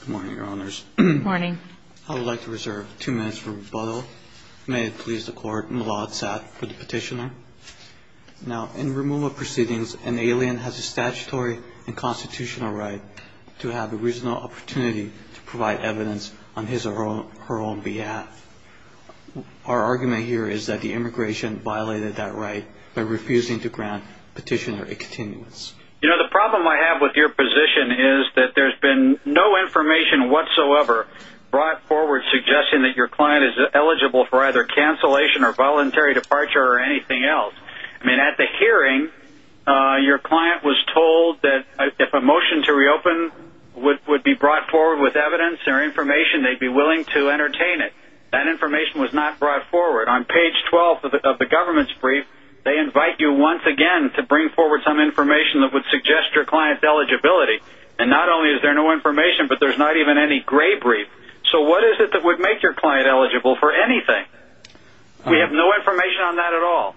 Good morning, your honors. I would like to reserve two minutes for rebuttal. May it please the court, M'lod Satt for the petitioner. Now, in removal proceedings, an alien has a statutory and constitutional right to have the reasonable opportunity to provide evidence on his or her own behalf. Our argument here is that the immigration violated that right by refusing to grant petitioner a continuance. You know, the problem I have with your position is that there's been no information whatsoever brought forward suggesting that your client is eligible for either cancellation or voluntary departure or anything else. I mean, at the hearing, your client was told that if a motion to reopen would be brought forward with evidence or information, they'd be willing to entertain it. That information was not brought forward. On page 12 of the government's brief, they invite you once again to bring forward some eligibility. And not only is there no information, but there's not even any gray brief. So what is it that would make your client eligible for anything? We have no information on that at all.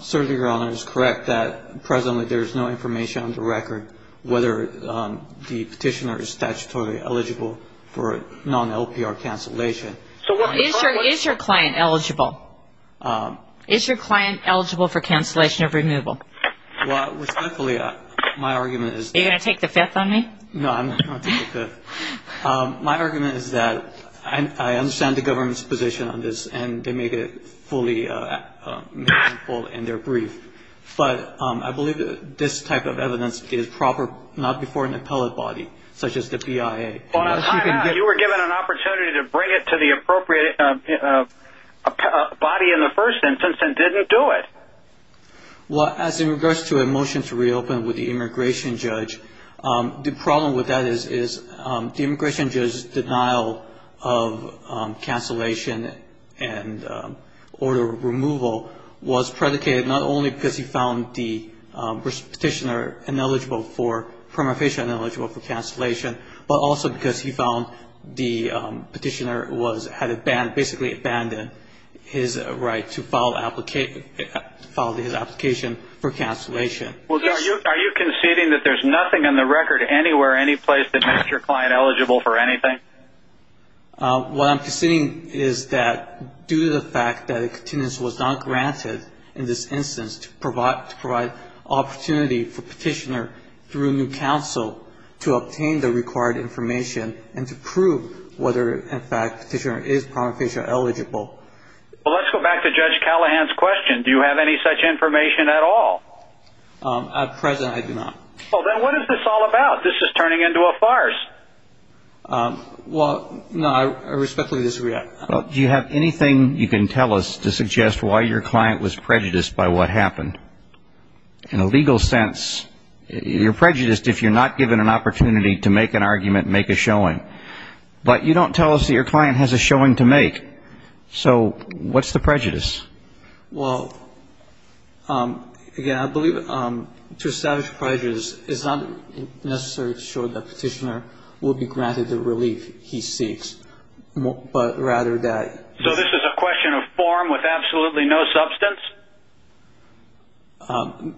Certainly, your honor, it is correct that presently there is no information on the record whether the petitioner is statutorily eligible for non-LPR cancellation. Is your client eligible? Is your client eligible for cancellation of removal? Well, respectfully, my argument is... Are you going to take the fifth on me? No, I'm not going to take the fifth. My argument is that I understand the government's position on this, and they made it fully meaningful in their brief. But I believe that this type of evidence is proper, not before an appellate body, such as the BIA. Your honor, you were given an opportunity to bring it to the appropriate body in the first instance and didn't do it. Well, as in regards to a motion to reopen with the immigration judge, the problem with that is the immigration judge's denial of cancellation and order of removal was predicated not only because he found the petitioner eligible for permutation and eligible for cancellation, but also because he found the petitioner had basically abandoned his right to file his application for cancellation. Are you conceding that there's nothing in the record anywhere, anyplace, that makes your client eligible for anything? What I'm conceding is that due to the fact that a contingency was not granted in this instance to provide opportunity for petitioner through new counsel to obtain the required information and to prove whether, in fact, petitioner is permutation eligible. Well, let's go back to Judge Callahan's question. Do you have any such information at all? At present, I do not. Well, then what is this all about? This is turning into a farce. Well, no, I respectfully disagree. Do you have anything you can tell us to suggest why your client was prejudiced by what happened? In a legal sense, you're prejudiced if you're not given an opportunity to make an argument, make a showing. But you don't tell us that your client has a showing to make. So what's the prejudice? Well, again, I believe to establish prejudice is not necessarily to show that petitioner will be granted the relief he seeks, but rather that- So this is a question of form with absolutely no substance?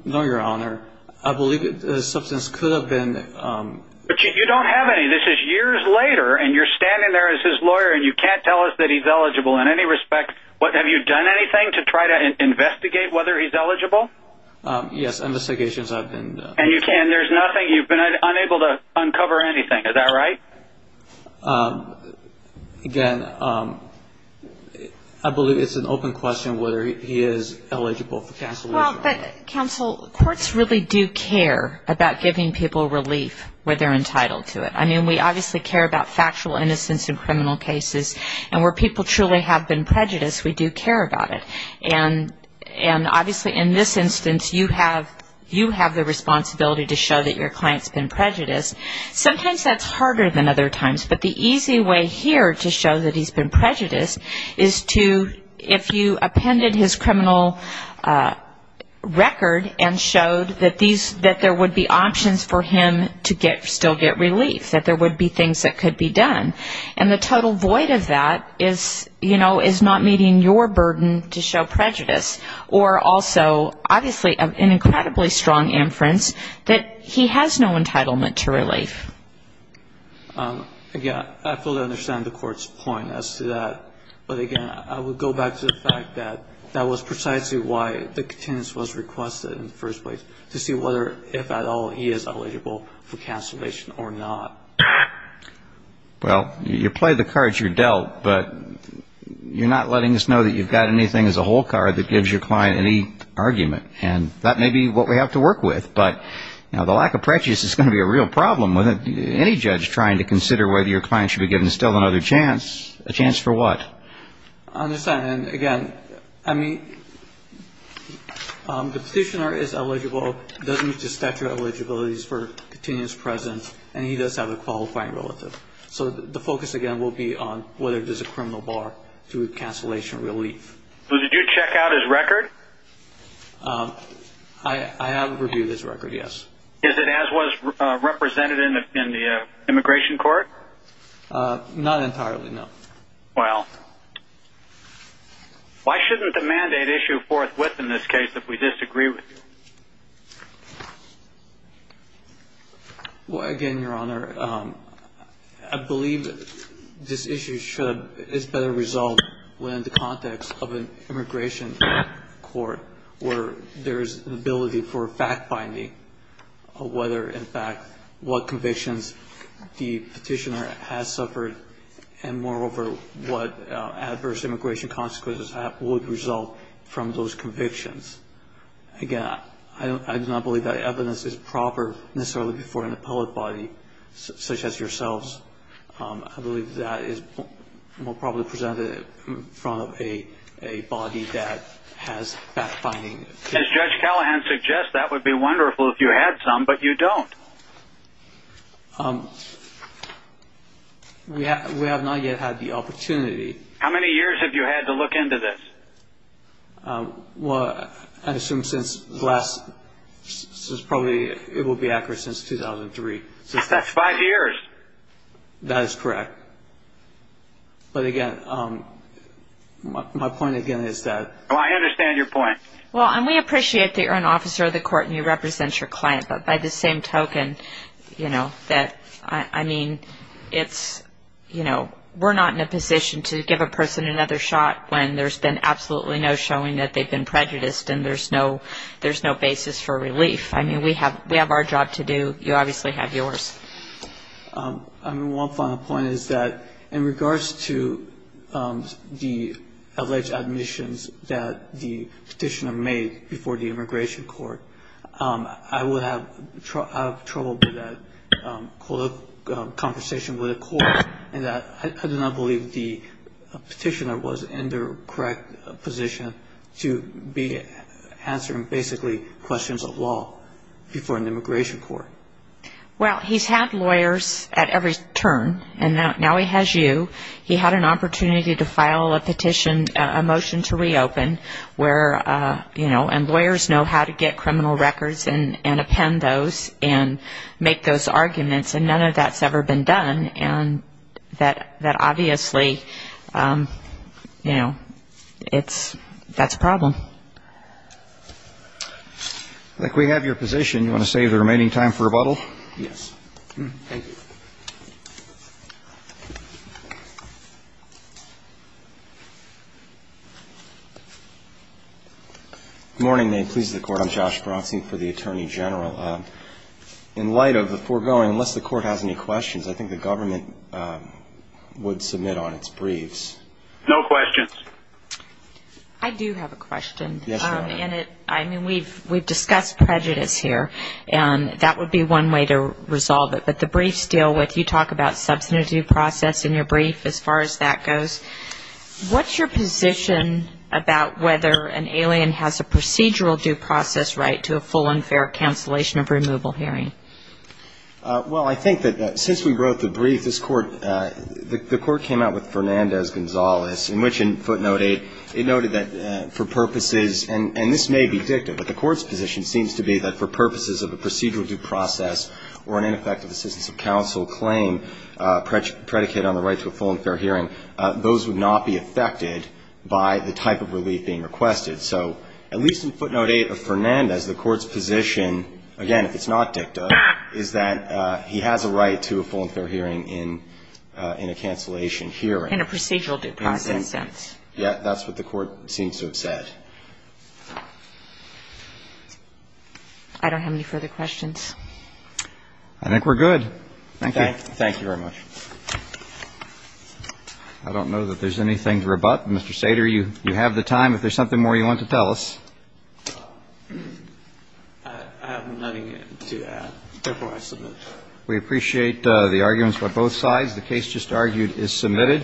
No, Your Honor. I believe the substance could have been- But you don't have any. This is years later, and you're standing there as his lawyer, and you can't tell us that he's eligible in any respect. Have you done anything to try to investigate whether he's eligible? Yes, investigations I've been- And you can. There's nothing. You've been unable to uncover anything. Is that right? Again, I believe it's an open question whether he is eligible for counsel- Well, but counsel, courts really do care about giving people relief where they're entitled to it. I mean, we obviously care about factual innocence in criminal cases, and where people truly have been prejudiced, we do care about it. And obviously in this instance, you have the responsibility to show that your client's been prejudiced. Sometimes that's harder than other times, but the easy way here to show that he's been prejudiced is to, if you appended his criminal record and showed that there would be options for him to still get relief, that there would be things that could be done, and the total void of that is not meeting your burden to show prejudice, or also obviously an incredibly strong inference that he has no entitlement to relief. Again, I fully understand the court's point as to that. But again, I would go back to the fact that that was precisely why the continence was requested in the first place, to see whether, if at all, he is eligible for cancellation or not. Well, you play the cards you're dealt, but you're not letting us know that you've got anything as a whole card that gives your client any argument. And that may be what we have to work with, but the lack of prejudice is going to be a real problem with any judge trying to consider whether your client should be given still another chance. A chance for what? I understand. And again, I mean, the petitioner is eligible. It doesn't meet the statute of eligibility for continuous presence, and he does have a qualifying relative. So the focus, again, will be on whether there's a criminal bar to cancellation relief. So did you check out his record? I have reviewed his record, yes. Is it as was represented in the immigration court? Not entirely, no. Well, why shouldn't the mandate issue forthwith in this case if we disagree with you? Well, again, Your Honor, I believe this issue is better resolved within the context of an immigration court where there is an ability for fact-finding of whether, in fact, what convictions the petitioner has suffered and moreover what adverse immigration consequences would result from those convictions. Again, I do not believe that evidence is proper necessarily before an appellate body such as yourselves. I believe that is more probably presented in front of a body that has fact-finding. As Judge Callahan suggests, that would be wonderful if you had some, but you don't. We have not yet had the opportunity. How many years have you had to look into this? Well, I assume since probably it will be accurate since 2003. That's five years. That is correct. But, again, my point, again, is that... I understand your point. Well, and we appreciate that you're an officer of the court and you represent your client, but by the same token, you know, that, I mean, it's, you know, we're not in a position to give a person another shot when there's been absolutely no showing that they've been prejudiced and there's no basis for relief. I mean, we have our job to do. You obviously have yours. I mean, one final point is that in regards to the alleged admissions that the petitioner made before the immigration court, I would have trouble with that conversation with the court in that I do not believe the petitioner was in the correct position to be answering basically questions of law before an immigration court. Well, he's had lawyers at every turn, and now he has you. He had an opportunity to file a petition, a motion to reopen where, you know, and lawyers know how to get criminal records and append those and make those arguments, and none of that's ever been done, and that obviously, you know, that's a problem. I think we have your position. Do you want to save the remaining time for rebuttal? Yes. Thank you. Good morning. May it please the Court. I'm Josh Bronson for the Attorney General. In light of the foregoing, unless the Court has any questions, I think the government would submit on its briefs. No questions. I do have a question. Yes, Your Honor. I mean, we've discussed prejudice here, and that would be one way to resolve it, but the briefs deal with, you talk about substantive due process in your brief as far as that goes. What's your position about whether an alien has a procedural due process right to a full and fair cancellation of removal hearing? Well, I think that since we wrote the brief, this Court, the Court came out with Fernandez-Gonzalez, in which it noted that for purposes, and this may be dictative, but the Court's position seems to be that for purposes of a procedural due process or an ineffective assistance of counsel claim predicated on the right to a full and fair hearing, those would not be affected by the type of relief being requested. So at least in footnote 8 of Fernandez, the Court's position, again, if it's not dictative, is that he has a right to a full and fair hearing in a cancellation hearing. In a procedural due process sense. That's what the Court seems to have said. I don't have any further questions. I think we're good. Thank you. Thank you very much. I don't know that there's anything to rebut. Mr. Sater, you have the time. If there's something more you want to tell us. I have nothing to add. Therefore, I submit. We appreciate the arguments by both sides. The case just argued is submitted.